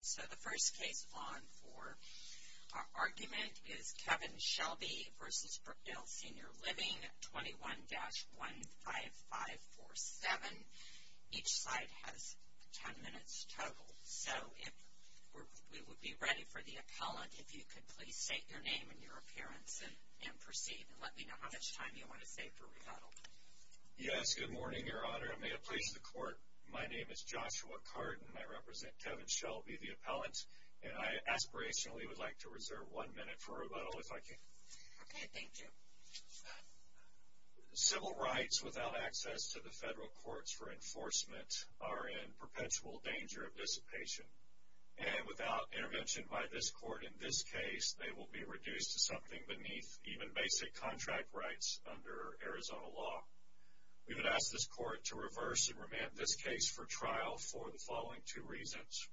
So the first case on for argument is Kevin Shelby v. Brookdale Senior Living, 21-15547. Each side has 10 minutes total. So we would be ready for the appellant. If you could please state your name and your appearance and proceed, and let me know how much time you want to save for rebuttal. Yes, good morning, Your Honor. And may it please the Court, my name is Joshua Cardin. I represent Kevin Shelby, the appellant. And I aspirationally would like to reserve one minute for rebuttal, if I can. Okay, thank you. Civil rights without access to the federal courts for enforcement are in perpetual danger of dissipation. And without intervention by this court in this case, they will be reduced to something beneath even basic contract rights under Arizona law. We would ask this court to reverse and remand this case for trial for the following two reasons.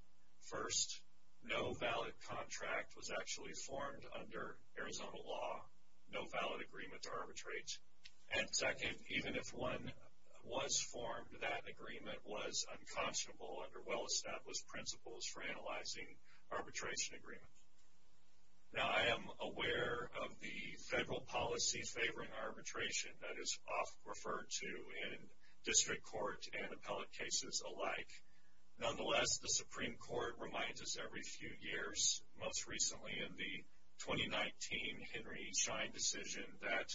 First, no valid contract was actually formed under Arizona law. No valid agreement to arbitrate. And second, even if one was formed, that agreement was unconscionable under well-established principles for analyzing arbitration agreements. Now, I am aware of the federal policy favoring arbitration that is often referred to in district court and appellate cases alike. Nonetheless, the Supreme Court reminds us every few years, most recently in the 2019 Henry Schein decision, that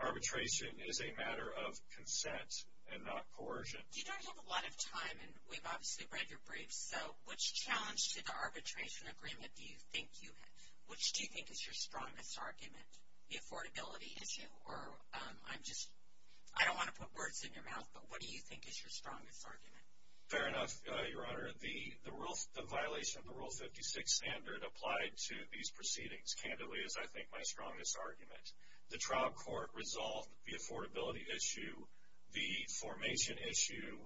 arbitration is a matter of consent and not coercion. You don't have a lot of time, and we've obviously read your briefs, so which challenge to the arbitration agreement do you think you have? Which do you think is your strongest argument? The affordability issue, or I'm just, I don't want to put words in your mouth, but what do you think is your strongest argument? Fair enough, Your Honor. The violation of the Rule 56 standard applied to these proceedings, candidly, is I think my strongest argument. The trial court resolved the affordability issue, the formation issue,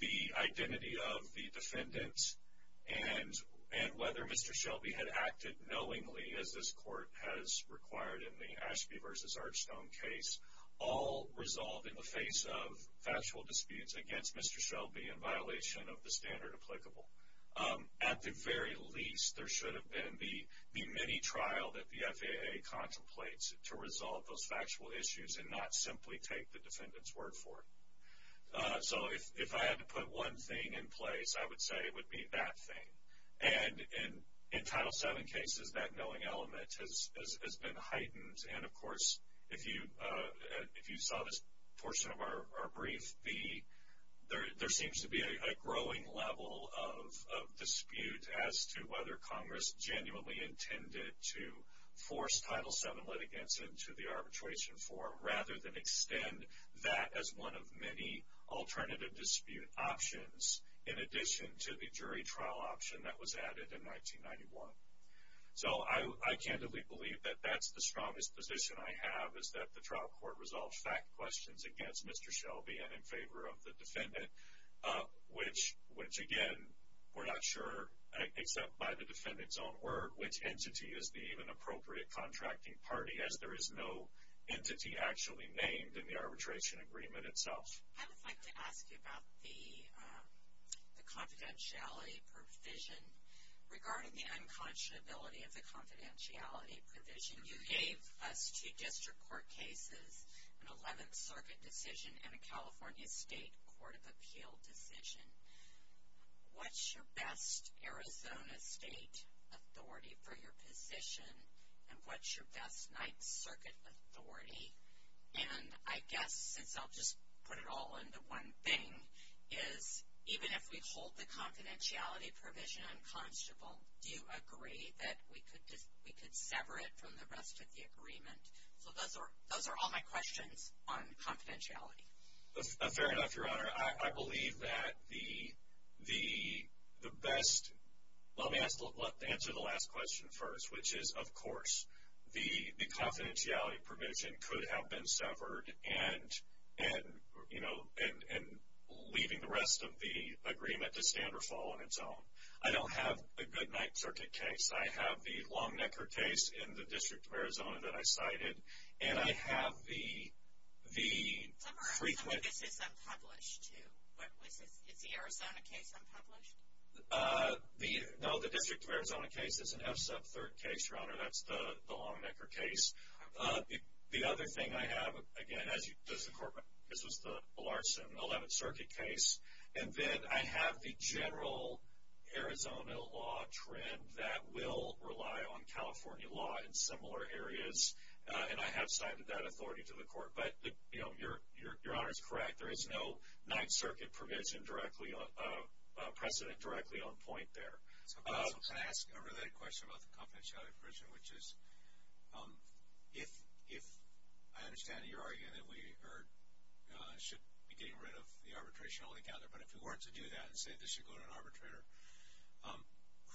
the identity of the defendants, and whether Mr. Shelby had acted knowingly, as this court has required in the Ashby v. Archstone case, all resolved in the face of factual disputes against Mr. Shelby in violation of the standard applicable. At the very least, there should have been the mini-trial that the FAA contemplates to resolve those factual issues and not simply take the defendant's word for it. So if I had to put one thing in place, I would say it would be that thing. And in Title VII cases, that knowing element has been heightened, and of course if you saw this portion of our brief, there seems to be a growing level of dispute as to whether Congress genuinely intended to force Title VII litigants into the arbitration forum rather than extend that as one of many alternative dispute options in addition to the jury trial option that was added in 1991. So I candidly believe that that's the strongest position I have, is that the trial court resolved fact questions against Mr. Shelby and in favor of the defendant, which, again, we're not sure, except by the defendant's own word, which entity is the even appropriate contracting party, as there is no entity actually named in the arbitration agreement itself. I would like to ask you about the confidentiality provision. Regarding the unconscionability of the confidentiality provision, you gave us two district court cases, an 11th Circuit decision and a California State Court of Appeal decision. What's your best Arizona State authority for your position, and what's your best 9th Circuit authority? And I guess, since I'll just put it all into one thing, is even if we hold the confidentiality provision unconscionable, do you agree that we could sever it from the rest of the agreement? So those are all my questions on confidentiality. Fair enough, Your Honor. I believe that the best – let me answer the last question first, which is, of course, the confidentiality provision could have been severed and leaving the rest of the agreement to stand or fall on its own. I don't have a good 9th Circuit case. I have the Longnecker case in the District of Arizona that I cited, and I have the frequent – Some of this is unpublished, too. Is the Arizona case unpublished? No, the District of Arizona case is an F-Sub 3rd case, Your Honor. That's the Longnecker case. The other thing I have, again, as you – this was the Larson 11th Circuit case. And then I have the general Arizona law trend that will rely on California law in similar areas, and I have cited that authority to the court. But, you know, Your Honor is correct. There is no 9th Circuit provision directly – precedent directly on point there. Can I ask a related question about the confidentiality provision, which is, if I understand your argument that we should be getting rid of the arbitration altogether, but if we weren't to do that and say this should go to an arbitrator,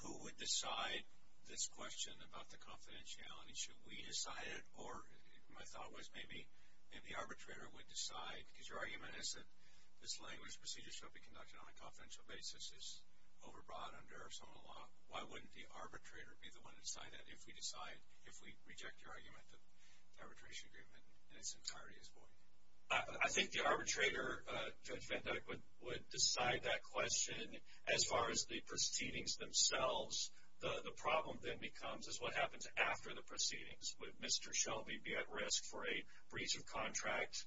who would decide this question about the confidentiality? Should we decide it, or my thought was maybe the arbitrator would decide, because your argument is that this language, procedures should be conducted on a confidential basis, is overbroad under Arizona law. Why wouldn't the arbitrator be the one to decide that if we decide – if we reject your argument that the arbitration agreement in its entirety is void? I think the arbitrator, Judge Van Dyck, would decide that question. As far as the proceedings themselves, the problem then becomes is what happens after the proceedings. Would Mr. Shelby be at risk for a breach of contract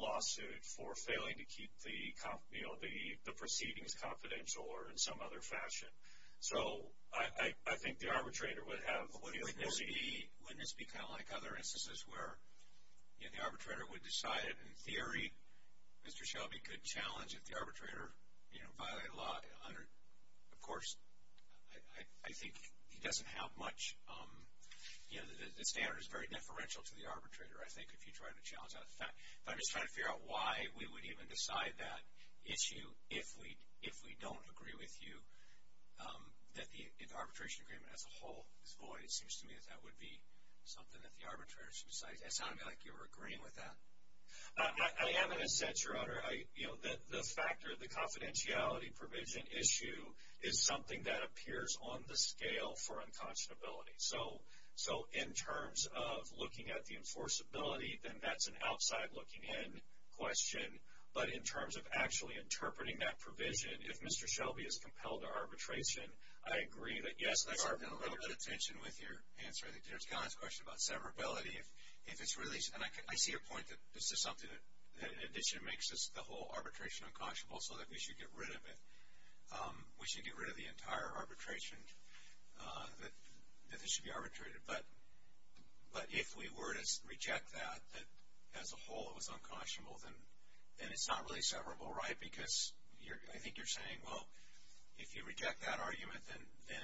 lawsuit for failing to keep the, you know, the proceedings confidential or in some other fashion? So I think the arbitrator would have – Wouldn't this be kind of like other instances where, you know, the arbitrator would decide in theory Mr. Shelby could challenge if the arbitrator, you know, violated a law under – of course, I think he doesn't have much, you know, the standard is very deferential to the arbitrator, I think, if you try to challenge that. But I'm just trying to figure out why we would even decide that issue if we don't agree with you that the arbitration agreement as a whole is void. It seems to me that that would be something that the arbitrator should decide. It sounded like you were agreeing with that. I am going to say, Your Honor, you know, the factor of the confidentiality provision issue is something that appears on the scale for unconscionability. So in terms of looking at the enforceability, then that's an outside looking in question. But in terms of actually interpreting that provision, if Mr. Shelby is compelled to arbitration, I agree that, yes, the arbitrator – I've gotten a little bit of tension with your answer. I think there's Conn's question about severability. If it's really – and I see your point that this is something that, in addition, makes the whole arbitration unconscionable so that we should get rid of it. We should get rid of the entire arbitration, that this should be arbitrated. But if we were to reject that, that as a whole it was unconscionable, then it's not really severable, right? Because I think you're saying, well, if you reject that argument, then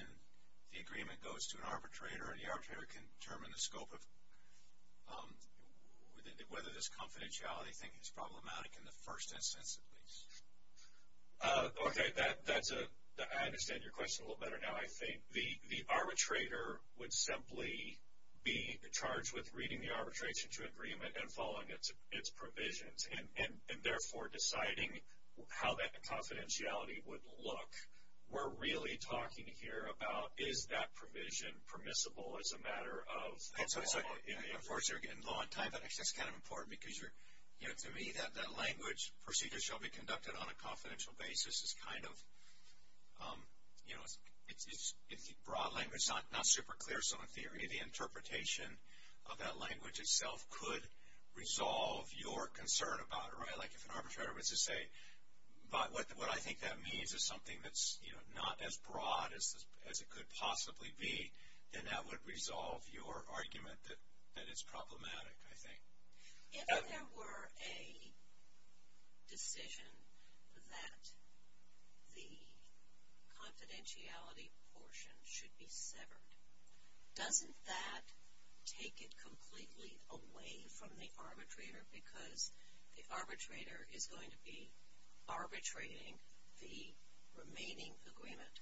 the agreement goes to an arbitrator, and the arbitrator can determine the scope of whether this confidentiality thing is problematic, in the first instance at least. Okay. I understand your question a little better now. I think the arbitrator would simply be charged with reading the arbitration to agreement and following its provisions and, therefore, deciding how that confidentiality would look. We're really talking here about is that provision permissible as a matter of law. Of course, you're getting low on time, but actually that's kind of important because, to me, that language, procedures shall be conducted on a confidential basis, is kind of, you know, it's broad language, not super clear. So, in theory, the interpretation of that language itself could resolve your concern about it, right? Like if an arbitrator was to say, what I think that means is something that's, you know, not as broad as it could possibly be, then that would resolve your argument that it's problematic, I think. If there were a decision that the confidentiality portion should be severed, doesn't that take it completely away from the arbitrator because the arbitrator is going to be arbitrating the remaining agreement?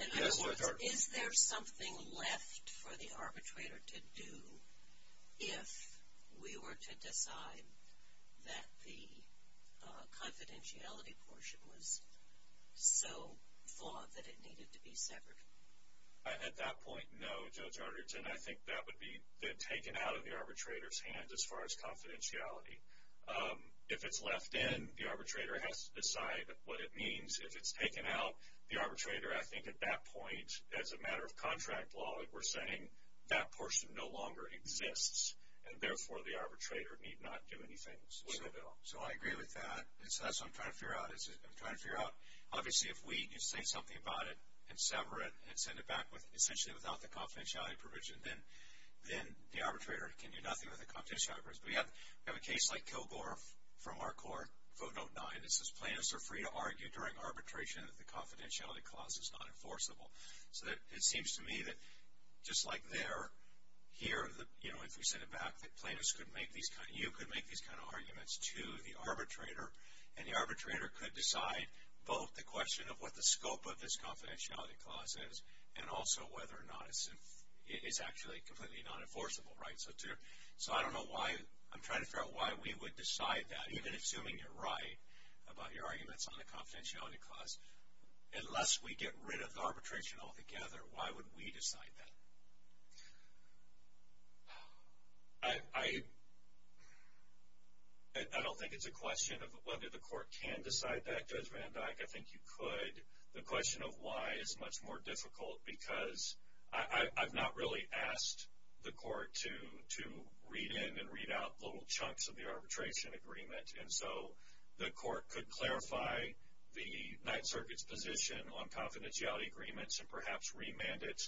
And in other words, is there something left for the arbitrator to do if we were to decide that the confidentiality portion was so flawed that it needed to be severed? At that point, no, Judge Arterton. I think that would be taken out of the arbitrator's hands as far as confidentiality. If it's left in, the arbitrator has to decide what it means. If it's taken out, the arbitrator, I think at that point, as a matter of contract law, we're saying that portion no longer exists and, therefore, the arbitrator need not do anything. So, I agree with that. That's what I'm trying to figure out. I'm trying to figure out, obviously, if we can say something about it and sever it and send it back essentially without the confidentiality provision, then the arbitrator can do nothing with the confidentiality provision. We have a case like Kilgore from our court, Vote 09. It says plaintiffs are free to argue during arbitration that the confidentiality clause is not enforceable. So, it seems to me that just like there, here, if we send it back, you could make these kind of arguments to the arbitrator, and the arbitrator could decide both the question of what the scope of this confidentiality clause is and also whether or not it's actually completely non-enforceable. So, I don't know why. I'm trying to figure out why we would decide that, even assuming you're right about your arguments on the confidentiality clause. Unless we get rid of arbitration altogether, why would we decide that? I don't think it's a question of whether the court can decide that, Judge Van Dyck. I think you could. The question of why is much more difficult because I've not really asked the court to read in and read out little chunks of the arbitration agreement, and so the court could clarify the Ninth Circuit's position on confidentiality agreements and perhaps remand it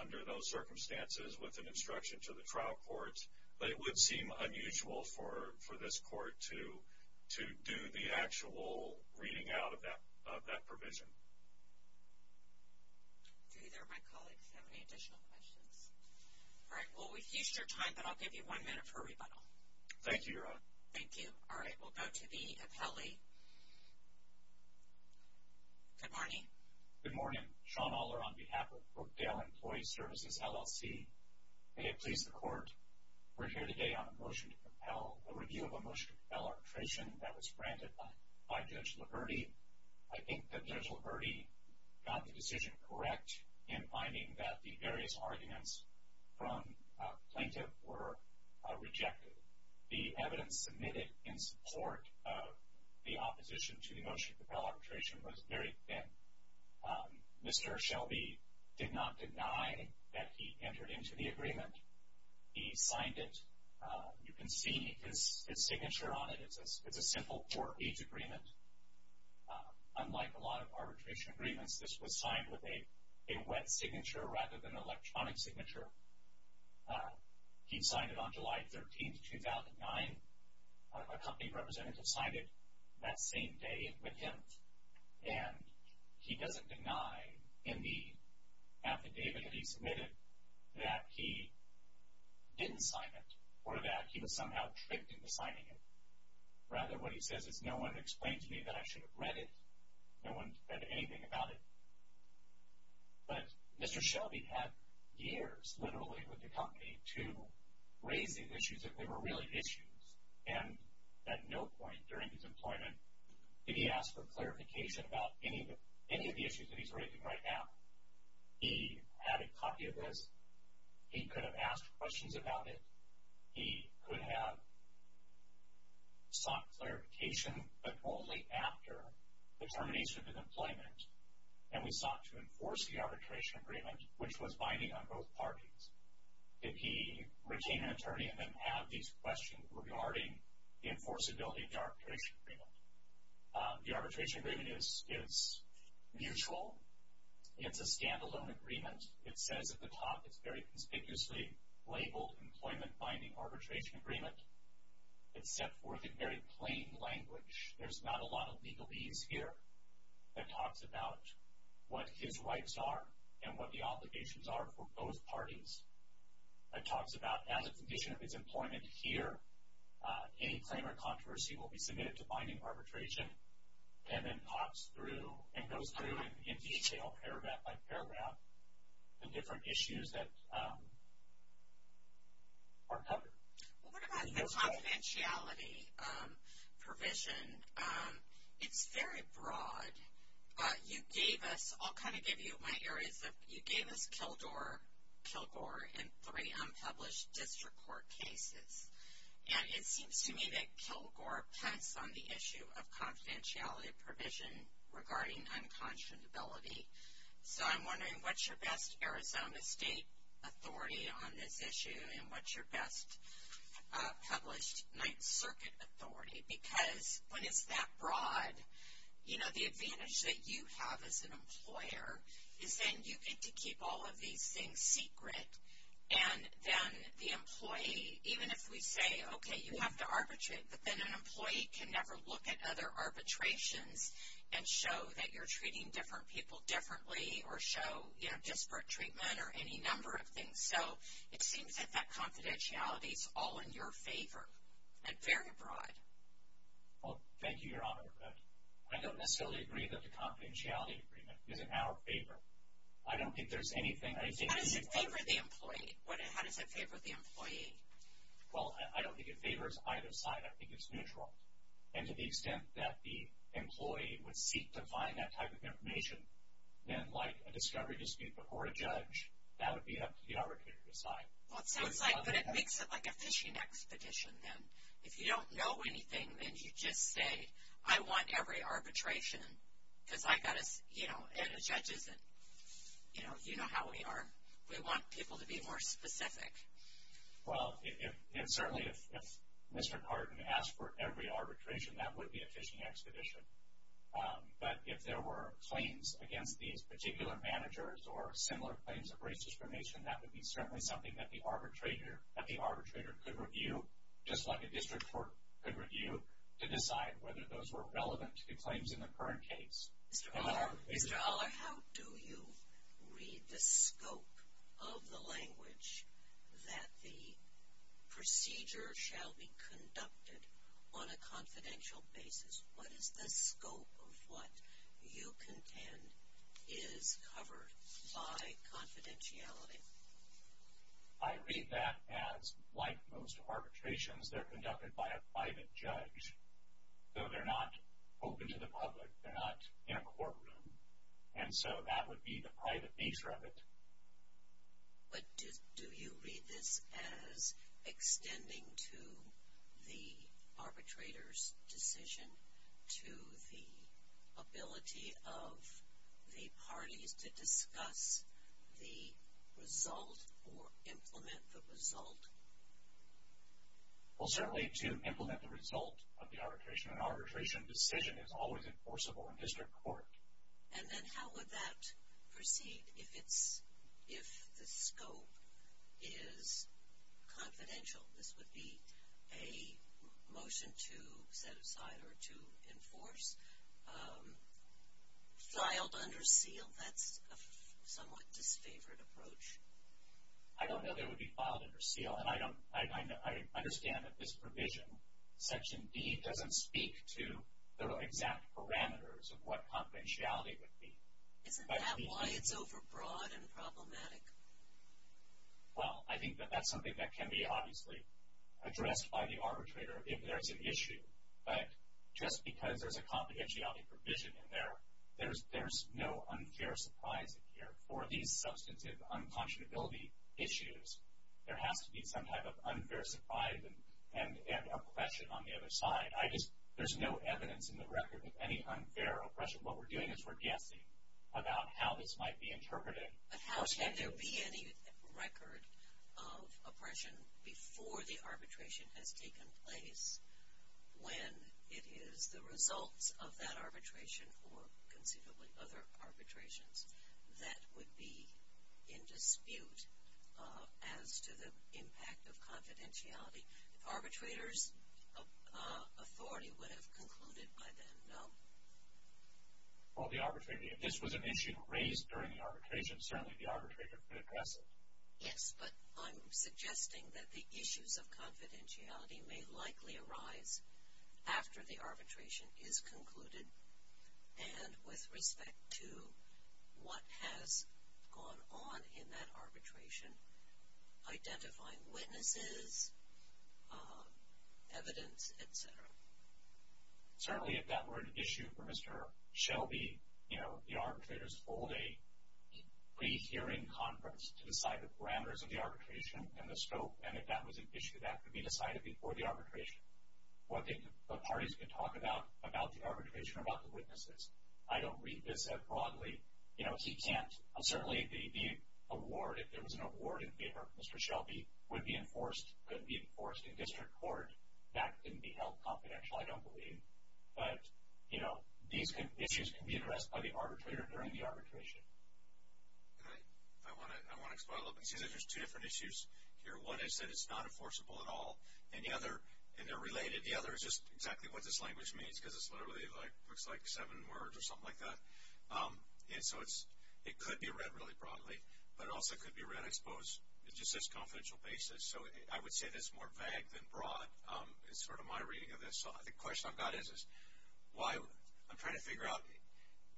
under those circumstances with an instruction to the trial court. But it would seem unusual for this court to do the actual reading out of that provision. Do either of my colleagues have any additional questions? All right. Well, we've used your time, but I'll give you one minute for a rebuttal. Thank you, Your Honor. Thank you. All right. We'll go to the appellee. Good morning. Good morning. I'm Sean Aller on behalf of Brookdale Employee Services, LLC. May it please the Court, we're here today on a motion to compel, a review of a motion to compel arbitration that was granted by Judge Laverty. I think that Judge Laverty got the decision correct in finding that the various arguments from plaintiff were rejected. The evidence submitted in support of the opposition to the motion to compel arbitration was very thin. Mr. Shelby did not deny that he entered into the agreement. He signed it. You can see his signature on it. It's a simple four-page agreement. Unlike a lot of arbitration agreements, this was signed with a wet signature rather than electronic signature. He signed it on July 13, 2009. A company representative signed it that same day with him. And he doesn't deny in the affidavit that he submitted that he didn't sign it or that he was somehow tricked into signing it. Rather, what he says is, no one explained to me that I should have read it. No one said anything about it. But Mr. Shelby had years, literally, with the company to raise these issues if they were really issues. And at no point during his employment did he ask for clarification about any of the issues that he's raising right now. He had a copy of this. He could have asked questions about it. He could have sought clarification, but only after the termination of his employment. And we sought to enforce the arbitration agreement, which was binding on both parties. Did he retain an attorney and then have these questions regarding the enforceability of the arbitration agreement? The arbitration agreement is mutual. It's a standalone agreement. It says at the top it's very conspicuously labeled Employment Binding Arbitration Agreement. It's set forth in very plain language. There's not a lot of legalese here that talks about what his rights are and what the obligations are for both parties. It talks about as a condition of his employment here, any claim or controversy will be submitted to binding arbitration. And then talks through and goes through in detail, paragraph by paragraph, the different issues that are covered. Well, what about the confidentiality provision? It's very broad. You gave us, I'll kind of give you my areas of, you gave us Kilgore and three unpublished district court cases. And it seems to me that Kilgore pets on the issue of confidentiality provision regarding unconscionability. So I'm wondering what's your best Arizona State authority on this issue? And what's your best published Ninth Circuit authority? Because when it's that broad, you know, the advantage that you have as an employer is then you get to keep all of these things secret. And then the employee, even if we say, okay, you have to arbitrate, but then an employee can never look at other arbitrations and show that you're treating different people differently or show, you know, disparate treatment or any number of things. So it seems that that confidentiality is all in your favor, and very broad. Well, thank you, Your Honor. I don't necessarily agree that the confidentiality agreement is in our favor. I don't think there's anything I can do. How does it favor the employee? Well, I don't think it favors either side. I think it's neutral. And to the extent that the employee would seek to find that type of information, then like a discovery dispute before a judge, that would be up to the arbitrator to decide. Well, it sounds like, but it makes it like a fishing expedition then. If you don't know anything, then you just say, I want every arbitration because I've got to, you know, and a judge isn't, you know, you know how we are. We want people to be more specific. Well, certainly if Mr. Cardin asked for every arbitration, that would be a fishing expedition. But if there were claims against these particular managers or similar claims of racist cremation, that would be certainly something that the arbitrator could review, just like a district court could review to decide whether those were relevant to claims in the current case. Mr. Oller, how do you read the scope of the language that the procedure shall be conducted on a confidential basis? What is the scope of what you contend is covered by confidentiality? I read that as, like most arbitrations, they're conducted by a private judge. So, they're not open to the public. They're not in a courtroom. And so, that would be the private nature of it. But do you read this as extending to the arbitrator's decision to the ability of the parties to discuss the result or implement the result? Well, certainly to implement the result of the arbitration. An arbitration decision is always enforceable in district court. And then how would that proceed if the scope is confidential? This would be a motion to set aside or to enforce, filed under seal. That's a somewhat disfavored approach. I don't know that it would be filed under seal. And I understand that this provision, Section D, doesn't speak to the exact parameters of what confidentiality would be. Isn't that why it's overbroad and problematic? Well, I think that that's something that can be obviously addressed by the arbitrator if there's an issue. But just because there's a confidentiality provision in there, there's no unfair surprise in here. For these substantive unconscionability issues, there has to be some type of unfair surprise and oppression on the other side. There's no evidence in the record of any unfair oppression. What we're doing is we're guessing about how this might be interpreted. But how can there be any record of oppression before the arbitration has taken place when it is the results of that arbitration or considerably other arbitrations that would be in dispute as to the impact of confidentiality? Arbitrators' authority would have concluded by then, no? Well, if this was an issue raised during the arbitration, certainly the arbitrator could address it. Yes, but I'm suggesting that the issues of confidentiality may likely arise after the arbitration is concluded and with respect to what has gone on in that arbitration, identifying witnesses, evidence, et cetera. Certainly, if that were an issue for Mr. Shelby, you know, the arbitrators hold a pre-hearing conference to decide the parameters of the arbitration and the scope. And if that was an issue, that could be decided before the arbitration. What parties can talk about, about the arbitration or about the witnesses. I don't read this as broadly. You know, he can't. Certainly, the award, if there was an award in favor of Mr. Shelby, would be enforced, could be enforced in district court. That couldn't be held confidential, I don't believe. But, you know, these issues can be addressed by the arbitrator during the arbitration. All right. I want to follow up and say that there's two different issues here. One is that it's not enforceable at all. And the other, and they're related, the other is just exactly what this language means, because it literally looks like seven words or something like that. And so, it could be read really broadly, but it also could be read, I suppose, just as confidential basis. So, I would say this is more vague than broad. It's sort of my reading of this. So, the question I've got is, why, I'm trying to figure out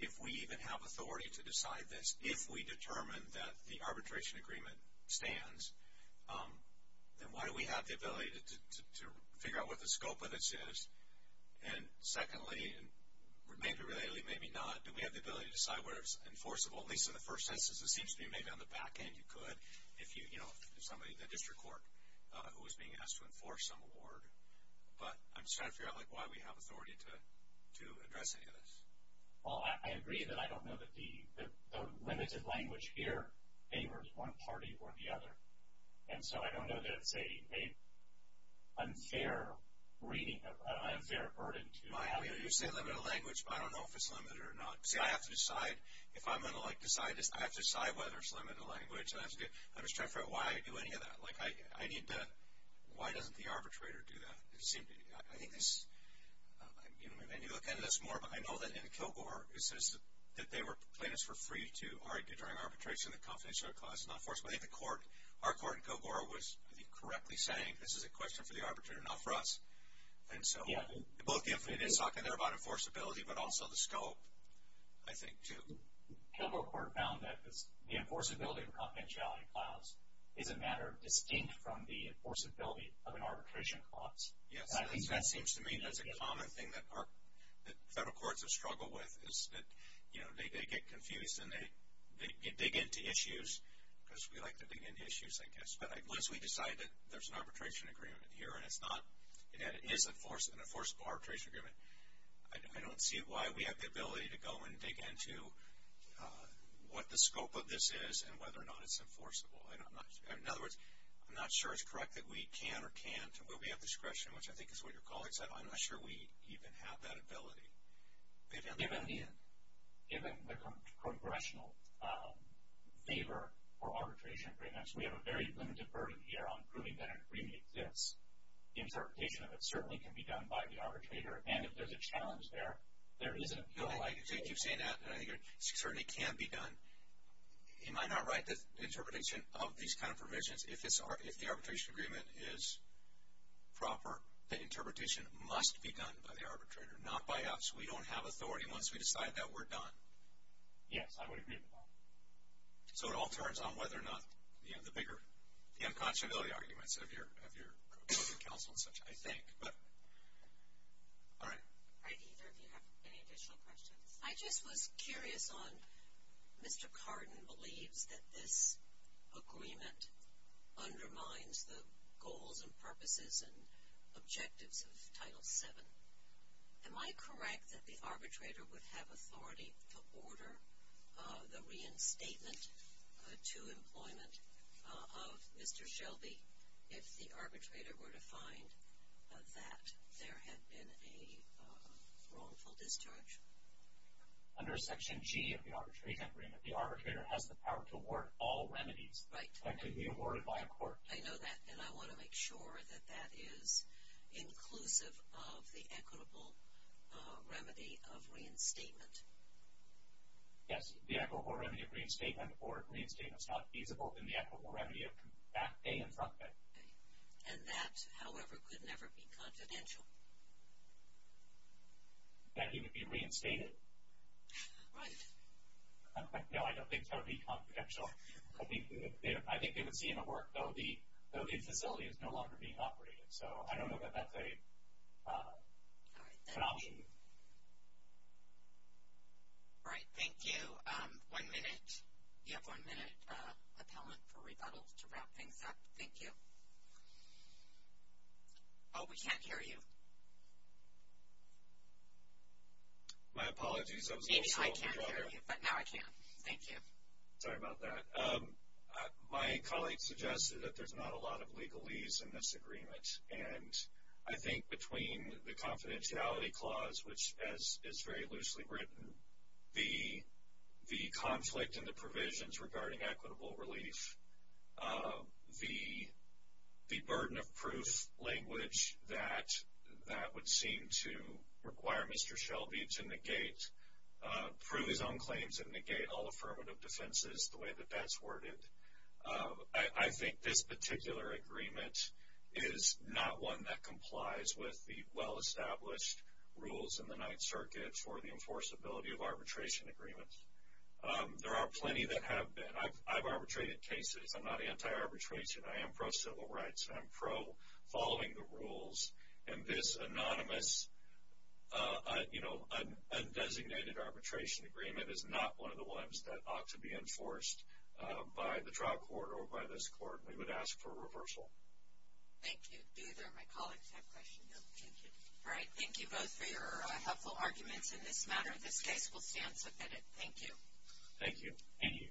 if we even have authority to decide this. If we determine that the arbitration agreement stands, then why do we have the ability to figure out what the scope of this is? And secondly, maybe relatedly, maybe not, do we have the ability to decide whether it's enforceable? At least in the first instance, it seems to me maybe on the back end you could if you, you know, somebody, the district court who was being asked to enforce some award. But I'm just trying to figure out, like, why we have authority to address any of this. Well, I agree that I don't know that the limited language here favors one party or the other. And so, I don't know that it's a unfair reading, an unfair burden to have. You say limited language, but I don't know if it's limited or not. See, I have to decide, if I'm going to, like, decide this, I have to decide whether it's limited language. I'm just trying to figure out why I do any of that. Like, I need to, why doesn't the arbitrator do that? It seems to me, I think this, and you look into this more, but I know that in Kilgore, it says that they were plaintiffs for free to argue during arbitration that confidentiality clause is not enforceable. I think the court, our court in Kilgore was, I think, correctly saying this is a question for the arbitrator, not for us. And so, both the influence talking there about enforceability, but also the scope, I think, too. Kilgore court found that the enforceability of confidentiality clause is a matter distinct from the enforceability of an arbitration clause. Yes, that seems to me that's a common thing that our, that federal courts have struggled with, is that, you know, they get confused and they dig into issues, because we like to dig into issues, I guess. But unless we decide that there's an arbitration agreement here and it's not, and it is an enforceable arbitration agreement, I don't see why we have the ability to go and dig into what the scope of this is and whether or not it's enforceable. In other words, I'm not sure it's correct that we can or can't, where we have discretion, which I think is what your colleague said, I'm not sure we even have that ability. Given the, given the congressional favor for arbitration agreements, we have a very limited burden here on proving that an agreement exists. Interpretation of it certainly can be done by the arbitrator, and if there's a challenge there, there isn't. No, I think you've seen that, and I think it certainly can be done. Am I not right that interpretation of these kind of provisions, if the arbitration agreement is proper, that interpretation must be done by the arbitrator, not by us. We don't have authority once we decide that we're done. Yes, I would agree with that. So it all turns on whether or not, you know, the bigger, the unconscionability arguments of your council and such, I think. But, all right. All right, either of you have any additional questions? I just was curious on, Mr. Cardin believes that this agreement undermines the goals and purposes and objectives of Title VII. Am I correct that the arbitrator would have authority to order the reinstatement to employment of Mr. Shelby if the arbitrator were to find that there had been a wrongful discharge? Under Section G of the arbitration agreement, the arbitrator has the power to award all remedies. Right. That can be awarded by a court. I know that, and I want to make sure that that is inclusive of the equitable remedy of reinstatement. Yes, the equitable remedy of reinstatement or reinstatement is not feasible in the equitable remedy of back bay and front bay. And that, however, could never be confidential. That he would be reinstated? Right. No, I don't think so. It would be confidential. I think they would see him at work, though the facility is no longer being operated. So I don't know that that's an option. All right. Thank you. One minute. You have one minute, appellant, for rebuttal to wrap things up. Thank you. Oh, we can't hear you. My apologies. Maybe I can't hear you, but now I can. Thank you. My colleague suggested that there's not a lot of legalese in this agreement. And I think between the confidentiality clause, which, as is very loosely written, the conflict in the provisions regarding equitable relief, the burden of proof language that would seem to require Mr. Shelby to negate, prove his own claims and negate all affirmative defenses the way that that's worded. I think this particular agreement is not one that complies with the well-established rules in the Ninth Circuit for the enforceability of arbitration agreements. There are plenty that have been. I've arbitrated cases. I'm not anti-arbitration. I am pro-civil rights, and I'm pro-following the rules. And this anonymous, you know, undesignated arbitration agreement is not one of the ones that ought to be enforced by the trial court or by this court. We would ask for reversal. Thank you. Do either of my colleagues have questions? No. Thank you. All right. Thank you both for your helpful arguments in this matter. This case will stand submitted. Thank you. Thank you. Thank you.